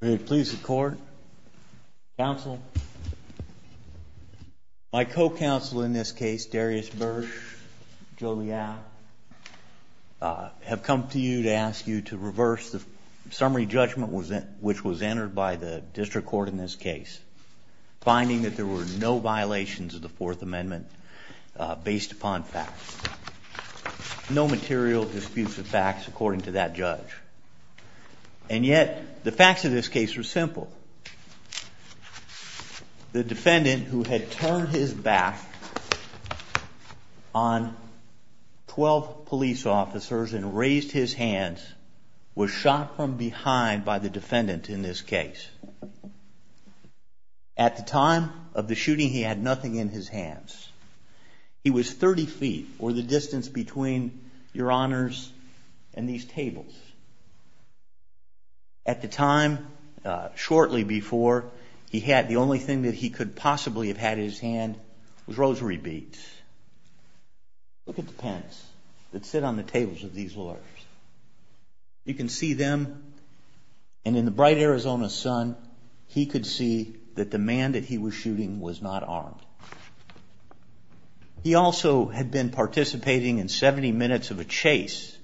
May it please the court, counsel, my co-counsel in this case, Darius Bursch, Joe Leal, have come to you to ask you to reverse the summary judgment which was entered by the district court in this case, finding that there were no violations of the Fourth Amendment based upon facts, no material disputes of facts according to that judge. And yet the facts of this case are simple. The defendant who had turned his back on 12 police officers and raised his hands was shot from behind by the defendant in this case. At the time of the shooting he had nothing in his hands. He was 30 feet, or the distance between your honors and these tables. At the time, shortly before, the only thing he could possibly have had in his hand was rosary beads. Look at the pens that sit on the tables of these lawyers. You can see them, and in the bright Arizona sun he could see that the man that he was shooting was not armed. He also had been participating in 70 minutes of a chase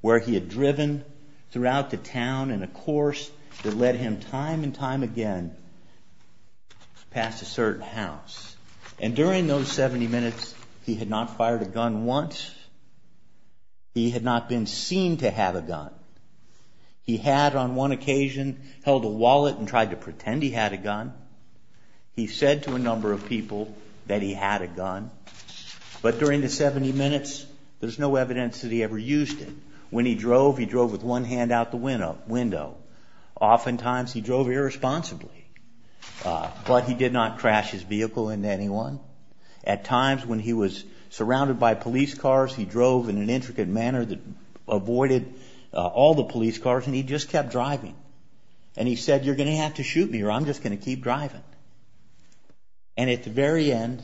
where he had driven throughout the town in a course that led him time and time again past a certain house. And during those 70 minutes he had not fired a gun once. He had not been seen to have a gun. He had on one occasion held a wallet and tried to pretend he had a gun. He said to a number of people that he had a gun. But during the 70 minutes there's no evidence that he ever used it. When he drove, he drove with one hand out the window. Oftentimes he didn't shoot anyone. At times when he was surrounded by police cars he drove in an intricate manner that avoided all the police cars and he just kept driving. And he said, you're going to have to shoot me or I'm just going to keep driving. And at the very end,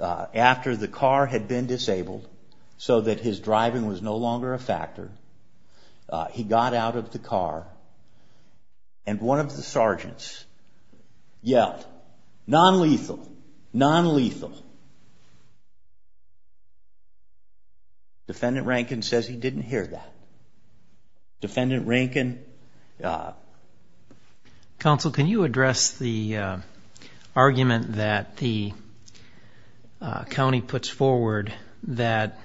after the car had been disabled so that his driving was no longer a factor, he got out of the non-lethal. Defendant Rankin says he didn't hear that. Defendant Rankin... Counsel, can you address the argument that the county puts forward that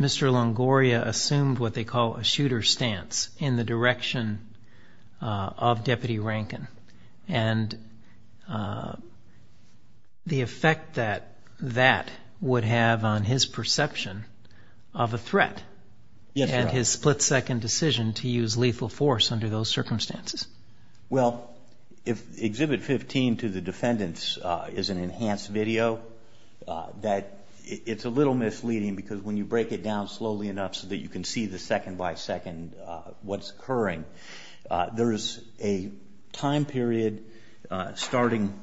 Mr. Longoria assumed what they call a shooter stance in the direction of Deputy Rankin and the effect that that would have on his perception of a threat and his split-second decision to use lethal force under those circumstances? Well, if Exhibit 15 to the defendants is an you can see the second by second what's occurring. There's a time period starting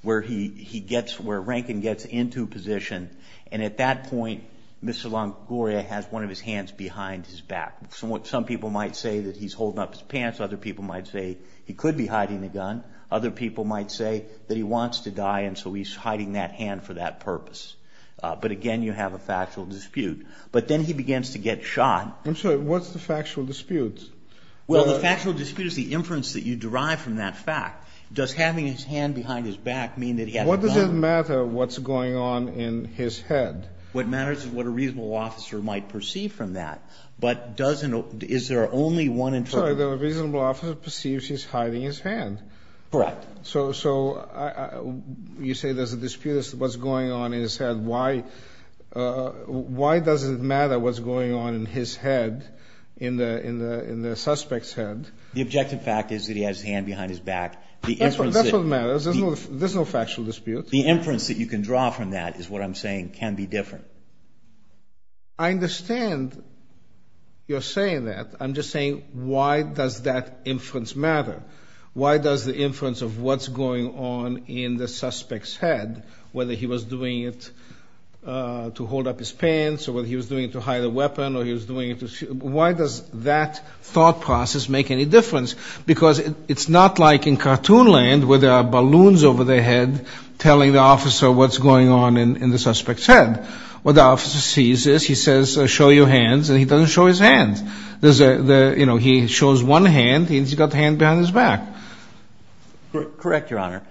where Rankin gets into position and at that point Mr. Longoria has one of his hands behind his back. Some people might say that he's holding up his pants. Other people might say he could be hiding a gun. Other people might say that he wants to die and so he's hiding that hand for that purpose. But again, you have a factual dispute. But then he begins to get shot. I'm sorry, what's the factual dispute? Well, the factual dispute is the inference that you derive from that fact. Does having his hand behind his back mean that he has a gun? What does it matter what's going on in his head? What matters is what a reasonable officer might perceive from that. But is there only one interpretation? Sorry, the reasonable officer perceives he's hiding his hand. Correct. So you say there's a dispute as to what's going on in his head. Why does it matter what's going on in his head, in the suspect's head? The objective fact is that he has his hand behind his back. That's what matters. There's no factual dispute. The inference that you can draw from that is what I'm saying can be different. I understand you're saying that. I'm just saying why does that inference matter? Why does the inference of what's going on in the suspect's head, whether he was doing it to hold up his pants or whether he was doing it to hide a weapon or he was doing it to... Why does that thought process make any difference? Because it's not like in cartoon land where there are balloons over their head telling the officer what's going on in the suspect's head. What the officer sees is he says, show your hands, and he doesn't show his hands. He shows one hand and he's got a hand behind his back. Correct, Your Honor.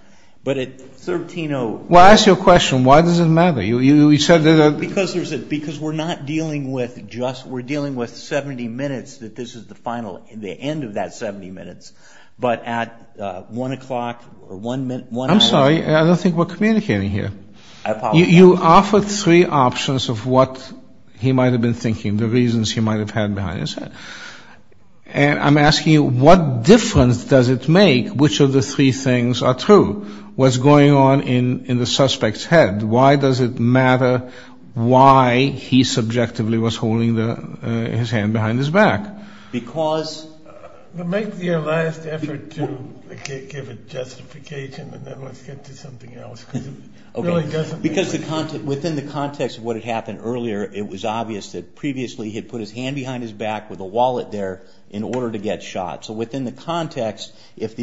But at 13... Well, I ask you a question. Why does it matter? Because we're not dealing with just, we're dealing with 70 minutes that this is the final, the end of that 70 minutes, but at 1 o'clock or 1 hour... I'm sorry, I don't think we're communicating here. You offered three options of what he might have been thinking, the reasons he might have had behind his head. And I'm asking you, what difference does it make which of the three things are true? What's going on in the suspect's head? Why does it matter why he subjectively was holding his hand behind his back? Because... Make the last effort to give a justification and then let's get to something else. Because within the context of what had happened earlier, it was obvious that previously he had put his hand behind his back with a wallet there in order to get shot. So within the context, if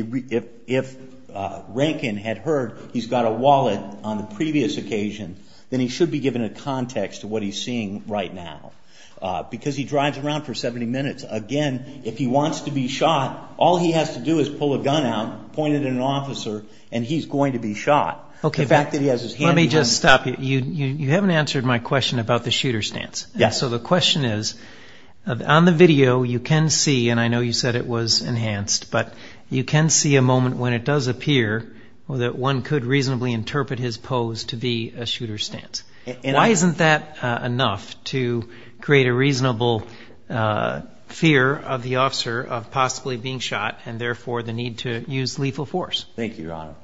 Rankin had heard he's got a wallet on the previous occasion, then he should be given a context to what he's seeing right now. Because he drives around for 70 minutes, again, if he wants to be shot, all he has to do is pull a gun out, point it at an officer, and he's going to be shot. The fact that he has his hand behind... Let me just stop you. You haven't answered my question about the shooter stance. So the question is, on the video you can see, and I know you said it was enhanced, but you can see a moment when it does appear that one could reasonably interpret his pose to be a shooter stance. Why isn't that enough to create a reasonable fear of the officer of possibly being shot and therefore the need to use lethal force? Thank you, Your Honor.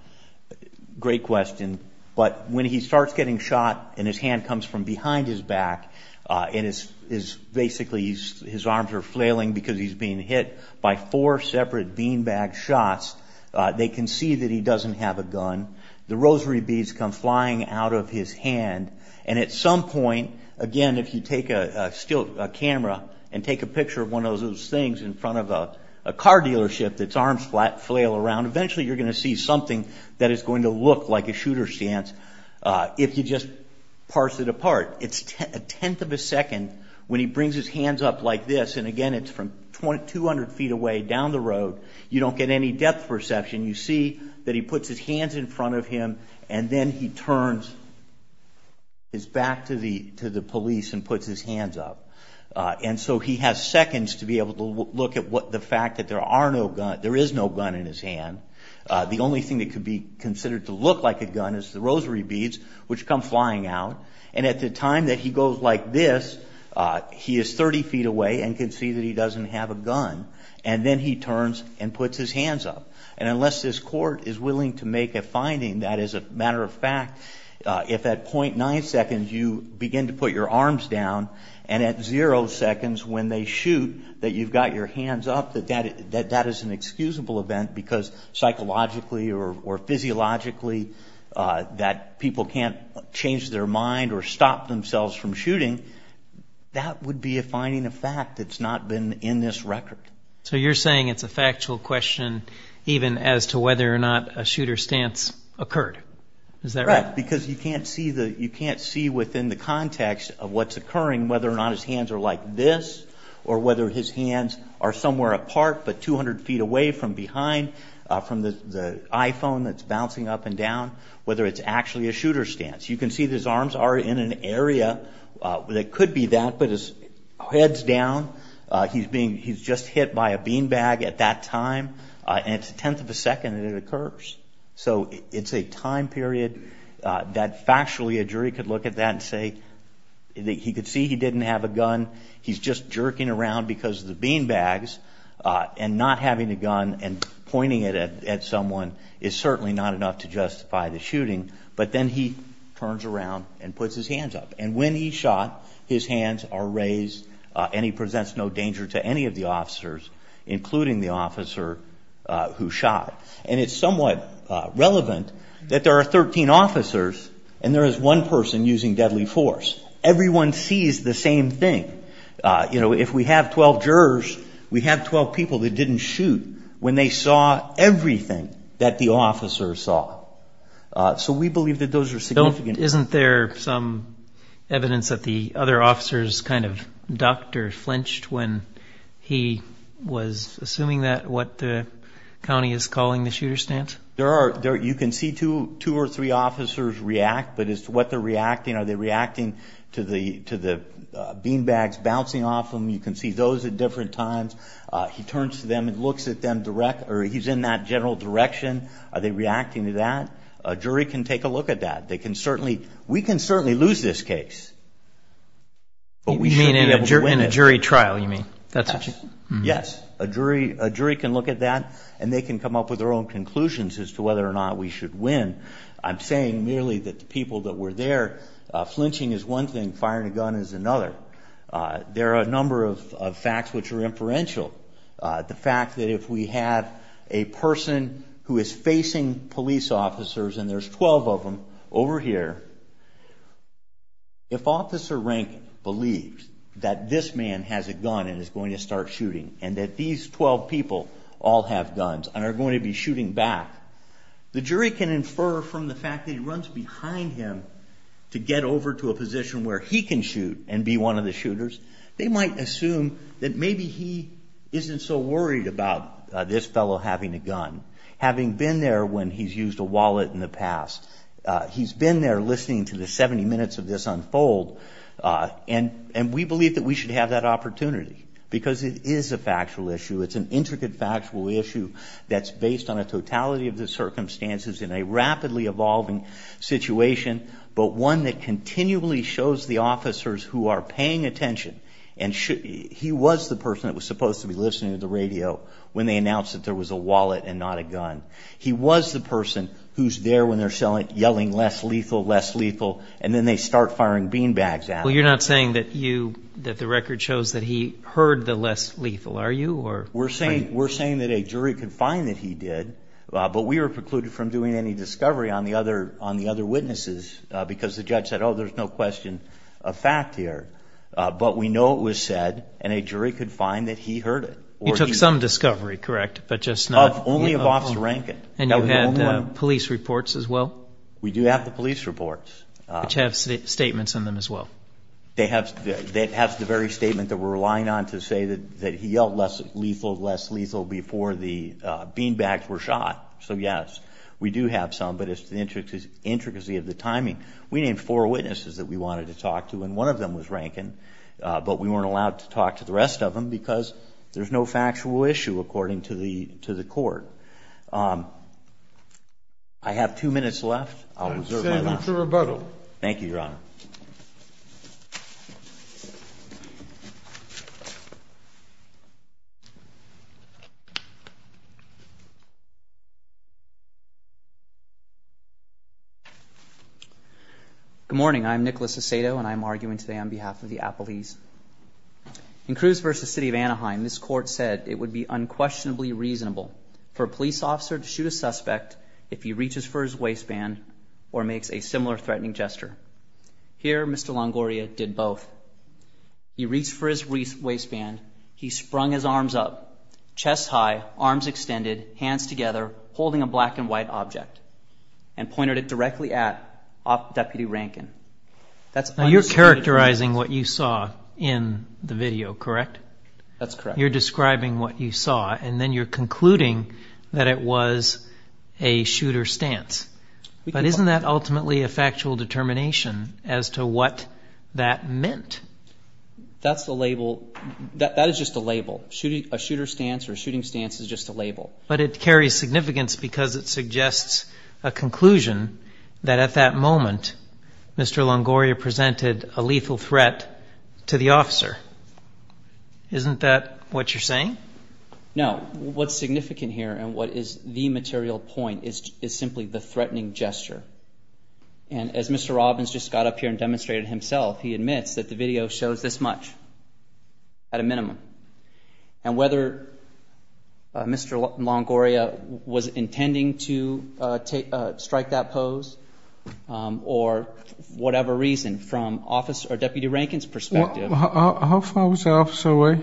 Great question. But when he starts getting shot and his hand comes from behind his back and basically his arms are flailing because he's being hit by four separate beanbag shots, they can see that he doesn't have a gun. The rosary beads come flying out of his hand. And at some point, again, if you take a camera and take a picture of one of those things in front of a car dealership that's arms flail around, eventually you're going to see something that is going to look like a shooter stance if you just parse it apart. It's a tenth of a second when he brings his hands up like this, and again it's from 200 feet away down the road, you don't get any depth perception. You see that he puts his hands in front of him and then he turns his back to the police and puts his hands up. And so he has seconds to be able to look at the fact that there is no gun in his hand. The only thing that could be considered to look like a gun is the rosary beads, which come flying out. And at the time that he goes like this, he is 30 feet away and can see that he doesn't have a gun. And then he turns and puts his hands up. And unless this court is willing to make a finding that, as a matter of fact, if at .9 seconds you begin to put your arms down, and at zero seconds when they shoot that you've got your hands up, that that is an excusable event because psychologically or physiologically that people can't change their mind or stop themselves from shooting, that would be a finding of fact that's not been in this record. So you're saying it's a factual question even as to whether or not a shooter stance occurred? Is that right? Because you can't see within the context of what's occurring whether or not his hands are like this or whether his hands are somewhere apart but 200 feet away from behind from the iPhone that's bouncing up and down, whether it's actually a shooter stance. You can see his arms are in an area that could be that, but his head's down. He's just hit by a bean bag. And when he's shot, his hands are raised and he presents no danger to any of the officers, including the officer who shot. And it's somewhat relevant that there are 13 officers and there is one person using deadly force. Everyone sees the same thing. If we have 12 jurors, we have 12 people that didn't shoot when they saw everything that the officers saw. So we believe that those are significant. Isn't there some evidence that the other officers kind of ducked or flinched when he was assuming that, what the county is calling the shooter stance? You can see two or three officers react, but as to what they're reacting, are they reacting to the bean bags bouncing off of them? You can see those at different times. He turns to them and looks at them, or he's in that general direction. Are they reacting to that? A jury can take a look at that. We can certainly lose this case, but we should be able to win a jury trial, you mean? Yes. A jury can look at that and they can come up with their own conclusions as to whether or not we should win. I'm saying merely that the people that were there, flinching is one thing, firing a gun is another. There are a number of facts which are inferential. The fact that if we have a person who is facing police officers, and there's 12 of them over here, if Officer Rank believes that this man has a gun and is going to start shooting and that these 12 people all have guns and are going to be shooting back, the jury can infer from the fact that he runs behind him to get over to a position where he can shoot and be one of the shooters, they might assume that maybe he isn't so worried about this that he used a wallet in the past. He's been there listening to the 70 minutes of this unfold, and we believe that we should have that opportunity because it is a factual issue. It's an intricate factual issue that's based on a totality of the circumstances in a rapidly evolving situation, but one that continually shows the officers who are paying attention. He was the person that was supposed to be listening to the radio when they announced that there was a wallet and not a gun. He was the person who's there when they're yelling less lethal, less lethal, and then they start firing beanbags at him. Well, you're not saying that the record shows that he heard the less lethal, are you? We're saying that a jury could find that he did, but we were precluded from doing any discovery on the other witnesses because the judge said, oh, there's no question of fact here. But we know it was said, and a jury could find that he heard it. You took some discovery, correct? Only of Officer Rankin. And you had police reports as well? We do have the police reports. Which have statements on them as well? They have the very statement that we're relying on to say that he yelled less lethal, less lethal before the beanbags were shot. So yes, we do have some, but it's the intricacy of the timing. We named four witnesses that we wanted to talk to, and one of them was Rankin, but we weren't allowed to talk to the rest of them because there's no factual issue, according to the to the court. I have two minutes left, I'll reserve my time. I'll send you to rebuttal. Thank you, Your Honor. Good morning, I'm Nicholas Asato, and I'm arguing today on behalf of the Appalese. In Cruz v. City of Anaheim, this court said it would be unquestionably reasonable for a police officer to shoot a suspect if he reaches for his waistband or makes a similar Here, Mr. Longoria did both. He reached for his waistband, he sprung his arms up, chest high, arms extended, hands together, holding a black and white object, and pointed it directly at Deputy Rankin. You're characterizing what you saw in the video, correct? That's correct. You're describing what you saw, and then you're concluding that it was a shooter's stance. But isn't that ultimately a factual determination as to what that meant? That's the label, that is just a label, a shooter's stance or a shooting stance is just a label. But it carries significance because it suggests a conclusion that at that moment, Mr. Longoria presented a lethal threat to the officer. Isn't that what you're saying? No, what's significant here and what is the material point is simply the threatening gesture. And as Mr. Robbins just got up here and demonstrated himself, he admits that the video shows this much. At a minimum, and whether Mr. Longoria was intending to strike that pose or whatever reason from Deputy Rankin's perspective. How far was the officer away?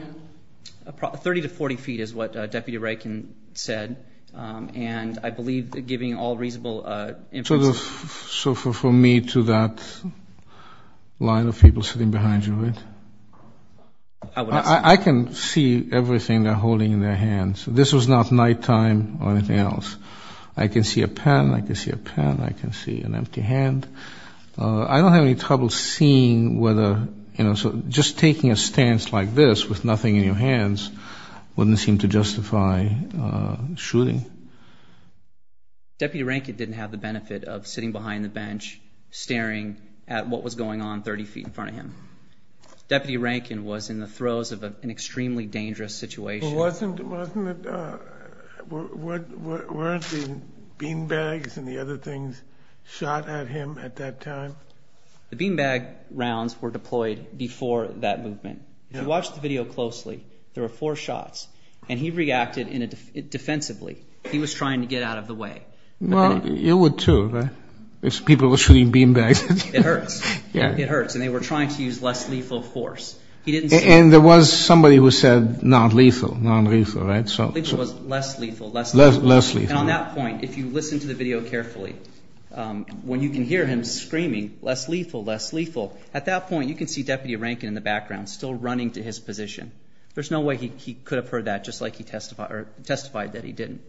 30 to 40 feet is what Deputy Rankin said. And I believe giving all reasonable. So for me to that line of people sitting behind you, I can see everything they're holding in their hands. This was not nighttime or anything else. I can see a pen, I can see a pen, I can see an empty hand. I don't have any trouble seeing whether, you know, just taking a stance like this with nothing in your hands wouldn't seem to justify shooting. Deputy Rankin didn't have the benefit of sitting behind the bench, staring at what was going on 30 feet in front of him. Deputy Rankin was in the throes of an extremely dangerous situation. Wasn't it, weren't the beanbags and the other things shot at him at that time? The beanbag rounds were deployed before that movement. If you watch the video closely, there were four shots and he reacted defensively. He was trying to get out of the way. Well, you would too, right? If people were shooting beanbags. It hurts. It hurts. And they were trying to use less lethal force. And there was somebody who said not lethal, non-lethal, right? So it was less lethal, less lethal. And on that point, if you listen to the video carefully, when you can hear him screaming, less lethal, less lethal, at that point, you can see Deputy Rankin in the background still running to his position. There's no way he could have heard that just like he testified that he didn't.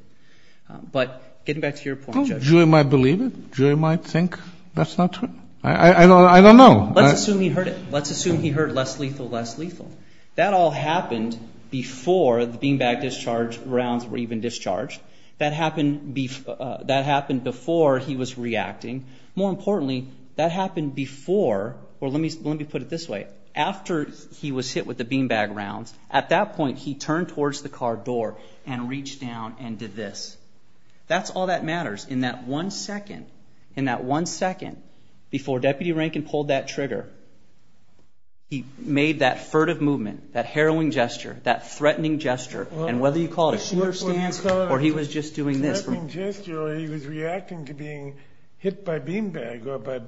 But getting back to your point, Judge. Jury might believe it. Jury might think that's not true. I don't know. Let's assume he heard it. Less lethal. That all happened before the beanbag discharge rounds were even discharged. That happened before he was reacting. More importantly, that happened before, or let me put it this way, after he was hit with the beanbag rounds, at that point, he turned towards the car door and reached down and did this. That's all that matters. In that one second, in that one second before Deputy Rankin pulled that trigger, he made that furtive movement, that harrowing gesture, that threatening gesture. And whether you call it a smirk or he was just doing this. Threatening gesture or he was reacting to being hit by beanbag or by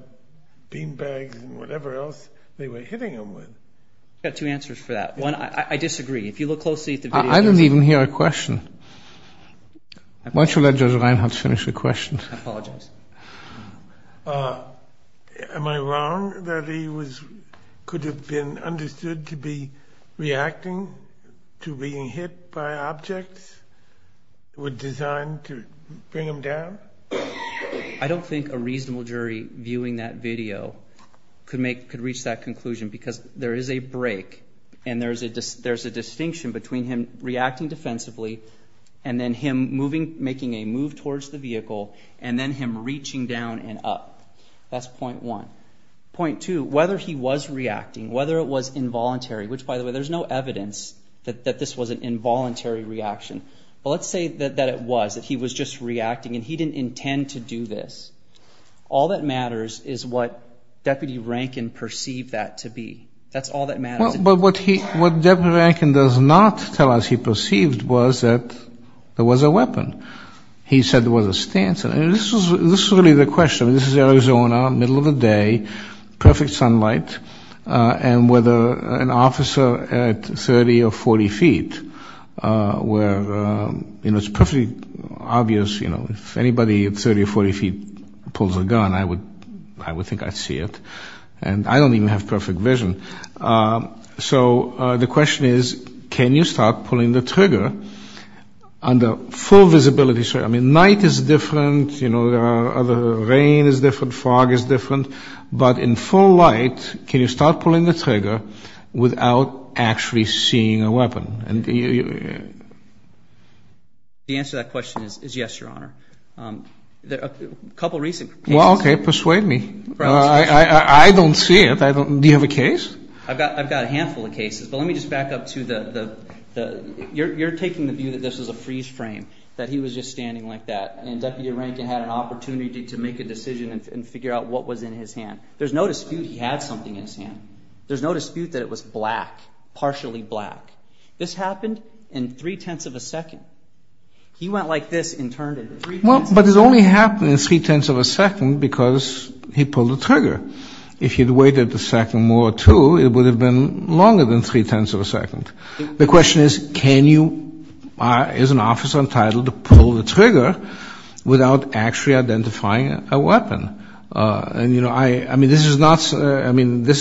beanbags and whatever else they were hitting him with. I've got two answers for that. One, I disagree. If you look closely at the video. I didn't even hear a question. Why don't you let Judge Reinhardt finish the question? I apologize. Am I wrong that he could have been understood to be reacting to being hit by objects designed to bring him down? I don't think a reasonable jury viewing that video could reach that conclusion because there is a break and there's a distinction between him reacting defensively. And then him moving, making a move towards the vehicle and then him reaching down and up. That's point one. Point two, whether he was reacting, whether it was involuntary, which by the way, there's no evidence that this was an involuntary reaction. But let's say that it was, that he was just reacting and he didn't intend to do this. All that matters is what Deputy Rankin perceived that to be. That's all that matters. But what Deputy Rankin does not tell us he perceived was that there was a weapon. He said there was a stance. This is really the question. This is Arizona, middle of the day, perfect sunlight, and with an officer at 30 or 40 feet where it's perfectly obvious, you know, if anybody at 30 or 40 feet pulls a gun, I would think I'd see it. And I don't even have perfect vision. So the question is, can you start pulling the trigger under full visibility? I mean, night is different. You know, rain is different. Fog is different. But in full light, can you start pulling the trigger without actually seeing a weapon? The answer to that question is yes, Your Honor. A couple of recent cases. Well, okay, persuade me. I don't see it. Do you have a case? I've got a handful of cases. But let me just back up to the you're taking the view that this is a freeze frame, that he was just standing like that, and Deputy Rankin had an opportunity to make a decision and figure out what was in his hand. There's no dispute he had something in his hand. There's no dispute that it was black, partially black. This happened in three-tenths of a second. He went like this and turned in three-tenths of a second. Because he pulled the trigger. If he had waited a second more, too, it would have been longer than three-tenths of a second. The question is, can you, as an officer entitled, pull the trigger without actually identifying a weapon? And, you know, I mean, this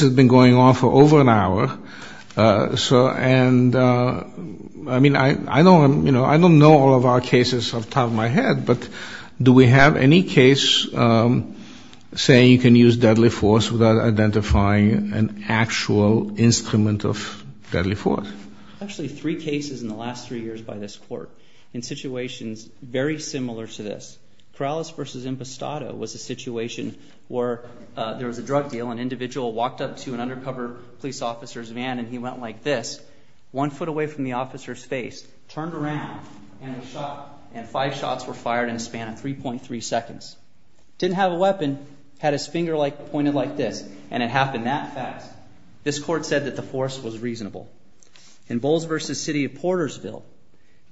has been going on for over an hour. And, I mean, I don't know all of our cases off the top of my head. But do we have any case saying you can use deadly force without identifying an actual instrument of deadly force? Actually, three cases in the last three years by this court in situations very similar to this. Corrales v. Impostado was a situation where there was a drug deal. An individual walked up to an undercover police officer's van, and he went like this, one foot away from the officer's face, turned around, and was shot. And five shots were fired in a span of 3.3 seconds. Didn't have a weapon, had his finger pointed like this, and it happened that fast. This court said that the force was reasonable. In Bowles v. City of Portersville,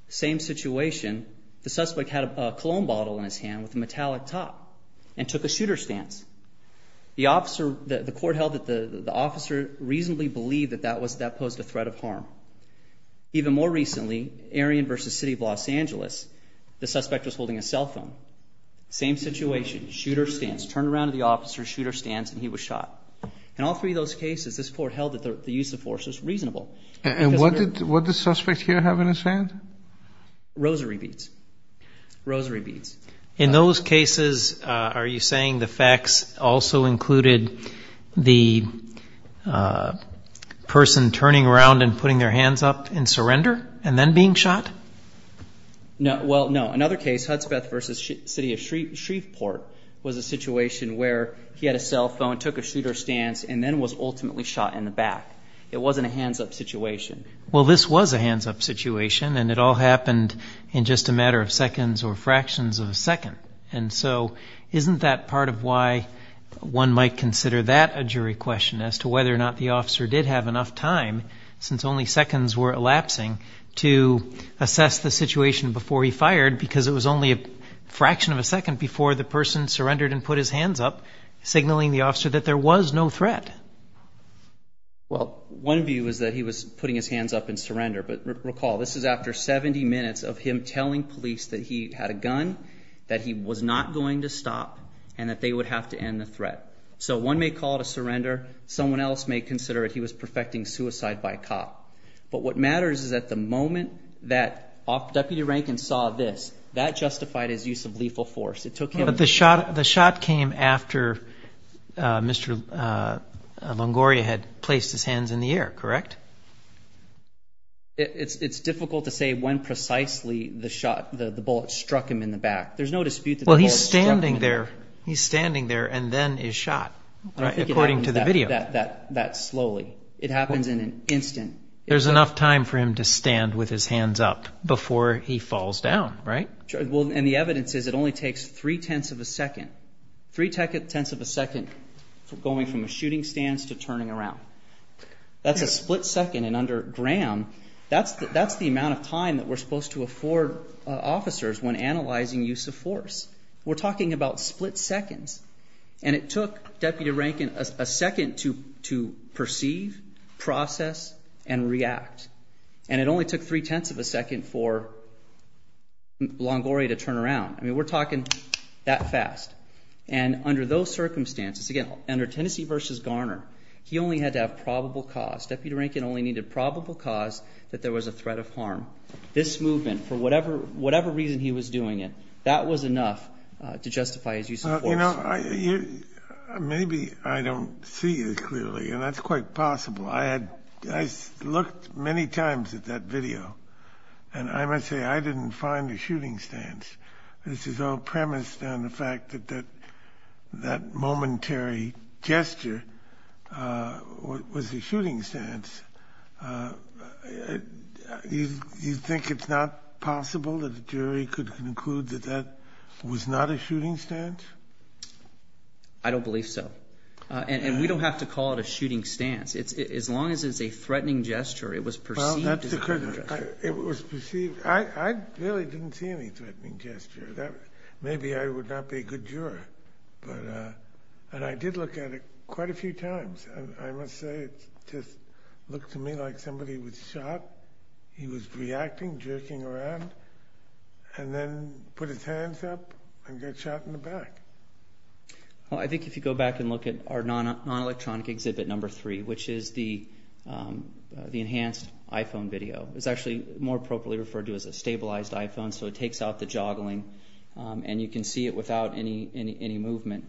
same situation. The suspect had a cologne bottle in his hand with a metallic top and took a shooter's stance. The court held that the officer reasonably believed that that posed a threat of harm. Even more recently, Arion v. City of Los Angeles, the suspect was holding a cell phone. Same situation, shooter's stance. Turned around to the officer, shooter's stance, and he was shot. In all three of those cases, this court held that the use of force was reasonable. And what did the suspect here have in his hand? Rosary beads. Rosary beads. In those cases, are you saying the facts also included the person turning around and putting their hands up in surrender and then being shot? No, well, no. Another case, Hudspeth v. City of Shreveport, was a situation where he had a cell phone, took a shooter's stance, and then was ultimately shot in the back. It wasn't a hands-up situation. Well, this was a hands-up situation, and it all happened in just a matter of seconds or fractions of a second. And so isn't that part of why one might consider that a jury question as to whether or not the officer did have enough time, since only seconds were elapsing, to assess the situation before he fired because it was only a fraction of a second before the person surrendered and put his hands up, signaling the officer that there was no threat? Well, one view is that he was putting his hands up in surrender. But recall, this is after 70 minutes of him telling police that he had a gun, that he was not going to stop, and that they would have to end the threat. So one may call it a surrender. Someone else may consider that he was perfecting suicide by cop. But what matters is that the moment that Deputy Rankin saw this, that justified his use of lethal force. But the shot came after Mr. Longoria had placed his hands in the air, correct? It's difficult to say when precisely the bullet struck him in the back. There's no dispute that the bullet struck him in the back. Well, he's standing there, and then is shot, according to the video. I don't think it happens that slowly. It happens in an instant. There's enough time for him to stand with his hands up before he falls down, right? And the evidence is it only takes three-tenths of a second. Three-tenths of a second going from a shooting stance to turning around. That's a split second. And under Graham, that's the amount of time that we're supposed to afford officers when analyzing use of force. We're talking about split seconds. And it took Deputy Rankin a second to perceive, process, and react. And it only took three-tenths of a second for Longoria to turn around. I mean, we're talking that fast. And under those circumstances, again, under Tennessee versus Garner, he only had to have probable cause. Deputy Rankin only needed probable cause that there was a threat of harm. This movement, for whatever reason he was doing it, that was enough to justify his use of force. Maybe I don't see it clearly, and that's quite possible. I looked many times at that video, and I must say I didn't find a shooting stance. This is all premised on the fact that that momentary gesture was a shooting stance. Do you think it's not possible that a jury could conclude that that was not a shooting stance? I don't believe so. And we don't have to call it a shooting stance. As long as it's a threatening gesture, it was perceived as a threatening gesture. It was perceived. I really didn't see any threatening gesture. Maybe I would not be a good juror. And I did look at it quite a few times. I must say it just looked to me like somebody was shot. He was reacting, jerking around, and then put his hands up and got shot in the back. Well, I think if you go back and look at our non-electronic exhibit number three, which is the enhanced iPhone video, it's actually more appropriately referred to as a stabilized iPhone, so it takes out the joggling, and you can see it without any movement.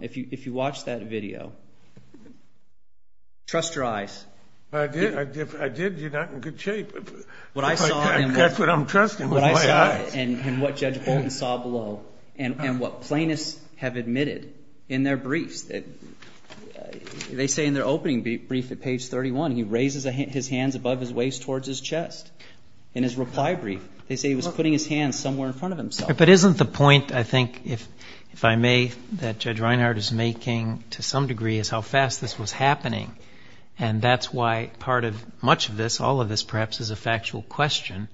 If you watch that video, trust your eyes. I did. I did. You're not in good shape. That's what I'm trusting with my eyes. And what Judge Bolton saw below and what plaintiffs have admitted in their briefs. They say in their opening brief at page 31, he raises his hands above his waist towards his chest. In his reply brief, they say he was putting his hands somewhere in front of himself. But isn't the point, I think, if I may, that Judge Reinhart is making to some degree is how fast this was happening, and that's why part of much of this, all of this perhaps, is a factual question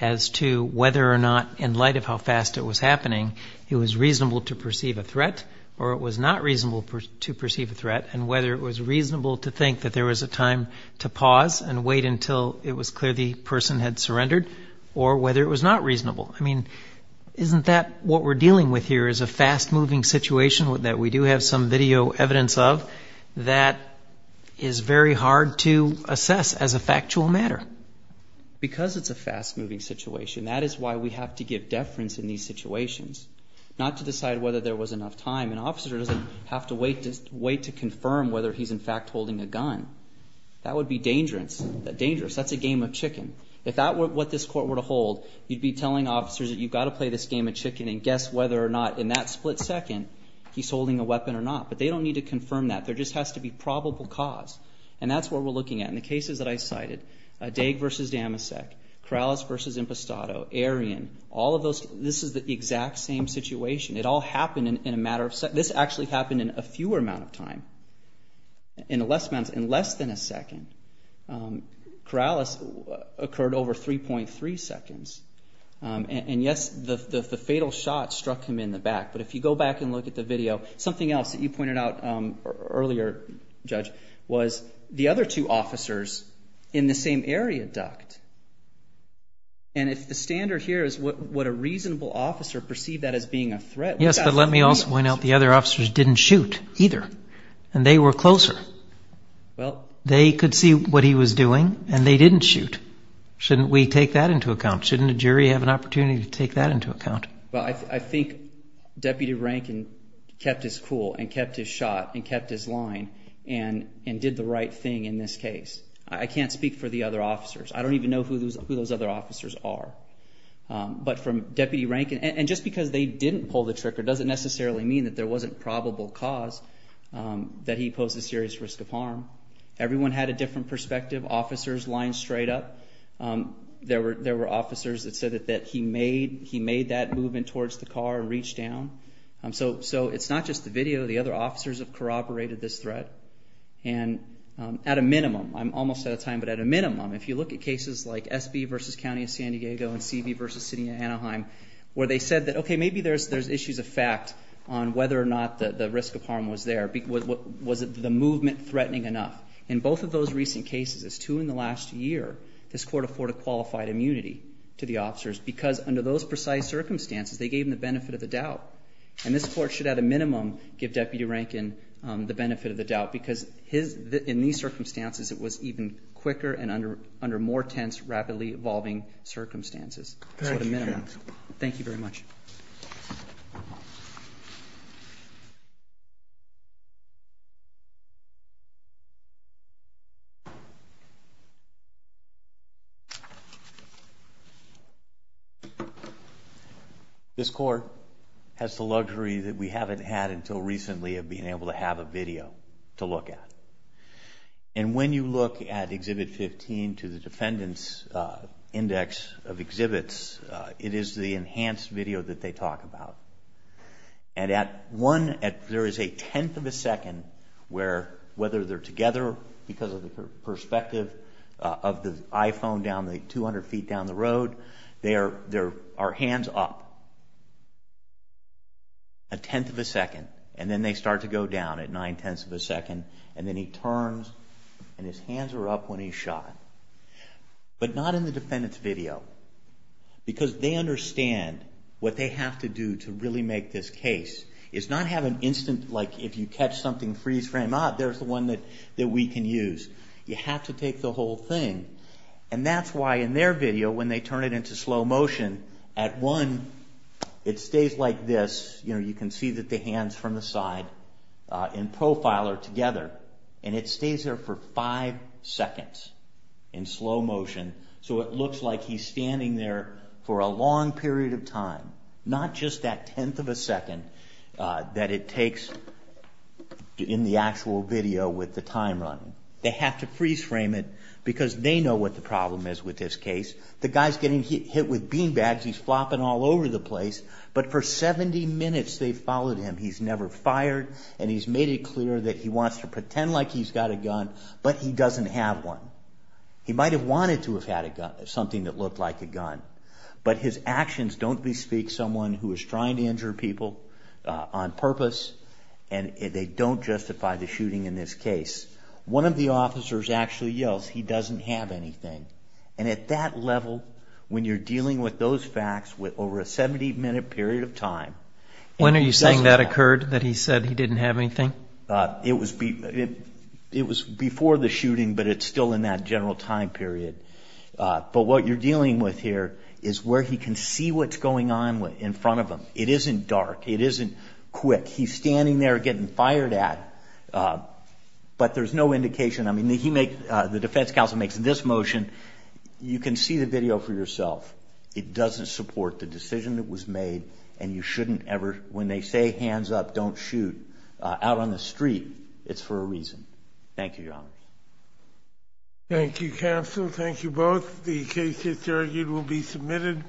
as to whether or not, in light of how fast it was happening, it was reasonable to perceive a threat or it was not reasonable to perceive a threat, and whether it was reasonable to think that there was a time to pause and wait until it was clear the person had surrendered, or whether it was not reasonable. I mean, isn't that what we're dealing with here is a fast-moving situation that we do have some video evidence of that is very hard to assess as a factual matter. Because it's a fast-moving situation, that is why we have to give deference in these situations, not to decide whether there was enough time. An officer doesn't have to wait to confirm whether he's in fact holding a gun. That would be dangerous. That's a game of chicken. If that were what this court were to hold, you'd be telling officers that you've got to play this game of chicken and guess whether or not in that split second he's holding a weapon or not. But they don't need to confirm that. There just has to be probable cause. And that's what we're looking at. In the cases that I cited, Daig versus Damasek, Corrales versus Impostato, Arion, all of those, this is the exact same situation. It all happened in a matter of seconds. This actually happened in a fewer amount of time, in less than a second. Corrales occurred over 3.3 seconds. And yes, the fatal shot struck him in the back. But if you go back and look at the video, something else that you pointed out earlier, Judge, was the other two officers in the same area ducked. And if the standard here is what a reasonable officer perceived that as being a threat. Yes, but let me also point out the other officers didn't shoot either, and they were closer. They could see what he was doing, and they didn't shoot. Shouldn't we take that into account? Shouldn't a jury have an opportunity to take that into account? Well, I think Deputy Rankin kept his cool and kept his shot and kept his line and did the right thing in this case. I can't speak for the other officers. I don't even know who those other officers are. But from Deputy Rankin, and just because they didn't pull the trigger doesn't necessarily mean that there wasn't probable cause that he posed a serious risk of harm. Everyone had a different perspective. Officers lined straight up. There were officers that said that he made that movement towards the car and reached down. So it's not just the video. The other officers have corroborated this threat. And at a minimum, I'm almost out of time, but at a minimum, if you look at cases like SB v. County of San Diego and CB v. City of Anaheim, where they said that, okay, maybe there's issues of fact on whether or not the risk of harm was there. Was the movement threatening enough? In both of those recent cases, as two in the last year, this court afforded qualified immunity to the officers because under those precise circumstances, they gave them the benefit of the doubt. And this court should, at a minimum, give Deputy Rankin the benefit of the doubt because in these circumstances, it was even quicker and under more tense, rapidly evolving circumstances. That's what a minimum. Thank you very much. Thank you. This court has the luxury that we haven't had until recently of being able to have a video to look at. And when you look at Exhibit 15 to the Defendant's Index of Exhibits, it is the enhanced video that they talk about. And there is a tenth of a second where, whether they're together because of the perspective of the iPhone 200 feet down the road, there are hands up a tenth of a second. And then they start to go down at nine-tenths of a second. And then he turns and his hands are up when he's shot. But not in the Defendant's video. Because they understand what they have to do to really make this case. It's not have an instant, like if you catch something, freeze frame, ah, there's the one that we can use. You have to take the whole thing. And that's why in their video, when they turn it into slow motion, at one, it stays like this. You can see that the hands from the side in profile are together. And it stays there for five seconds in slow motion. So it looks like he's standing there for a long period of time. Not just that tenth of a second that it takes in the actual video with the time running. They have to freeze frame it because they know what the problem is with this case. The guy's getting hit with bean bags. He's flopping all over the place. But for 70 minutes they've followed him. He's never fired. And he's made it clear that he wants to pretend like he's got a gun, but he doesn't have one. He might have wanted to have had something that looked like a gun, but his actions don't bespeak someone who is trying to injure people on purpose and they don't justify the shooting in this case. One of the officers actually yells, he doesn't have anything. And at that level, when you're dealing with those facts over a 70-minute period of time. When are you saying that occurred, that he said he didn't have anything? It was before the shooting, but it's still in that general time period. But what you're dealing with here is where he can see what's going on in front of him. It isn't dark. It isn't quick. He's standing there getting fired at, but there's no indication. I mean, the defense counsel makes this motion. You can see the video for yourself. It doesn't support the decision that was made, and you shouldn't ever, when they say, hands up, don't shoot, out on the street, it's for a reason. Thank you, Your Honor. Thank you, counsel. Thank you both. The case, it's argued, will be submitted.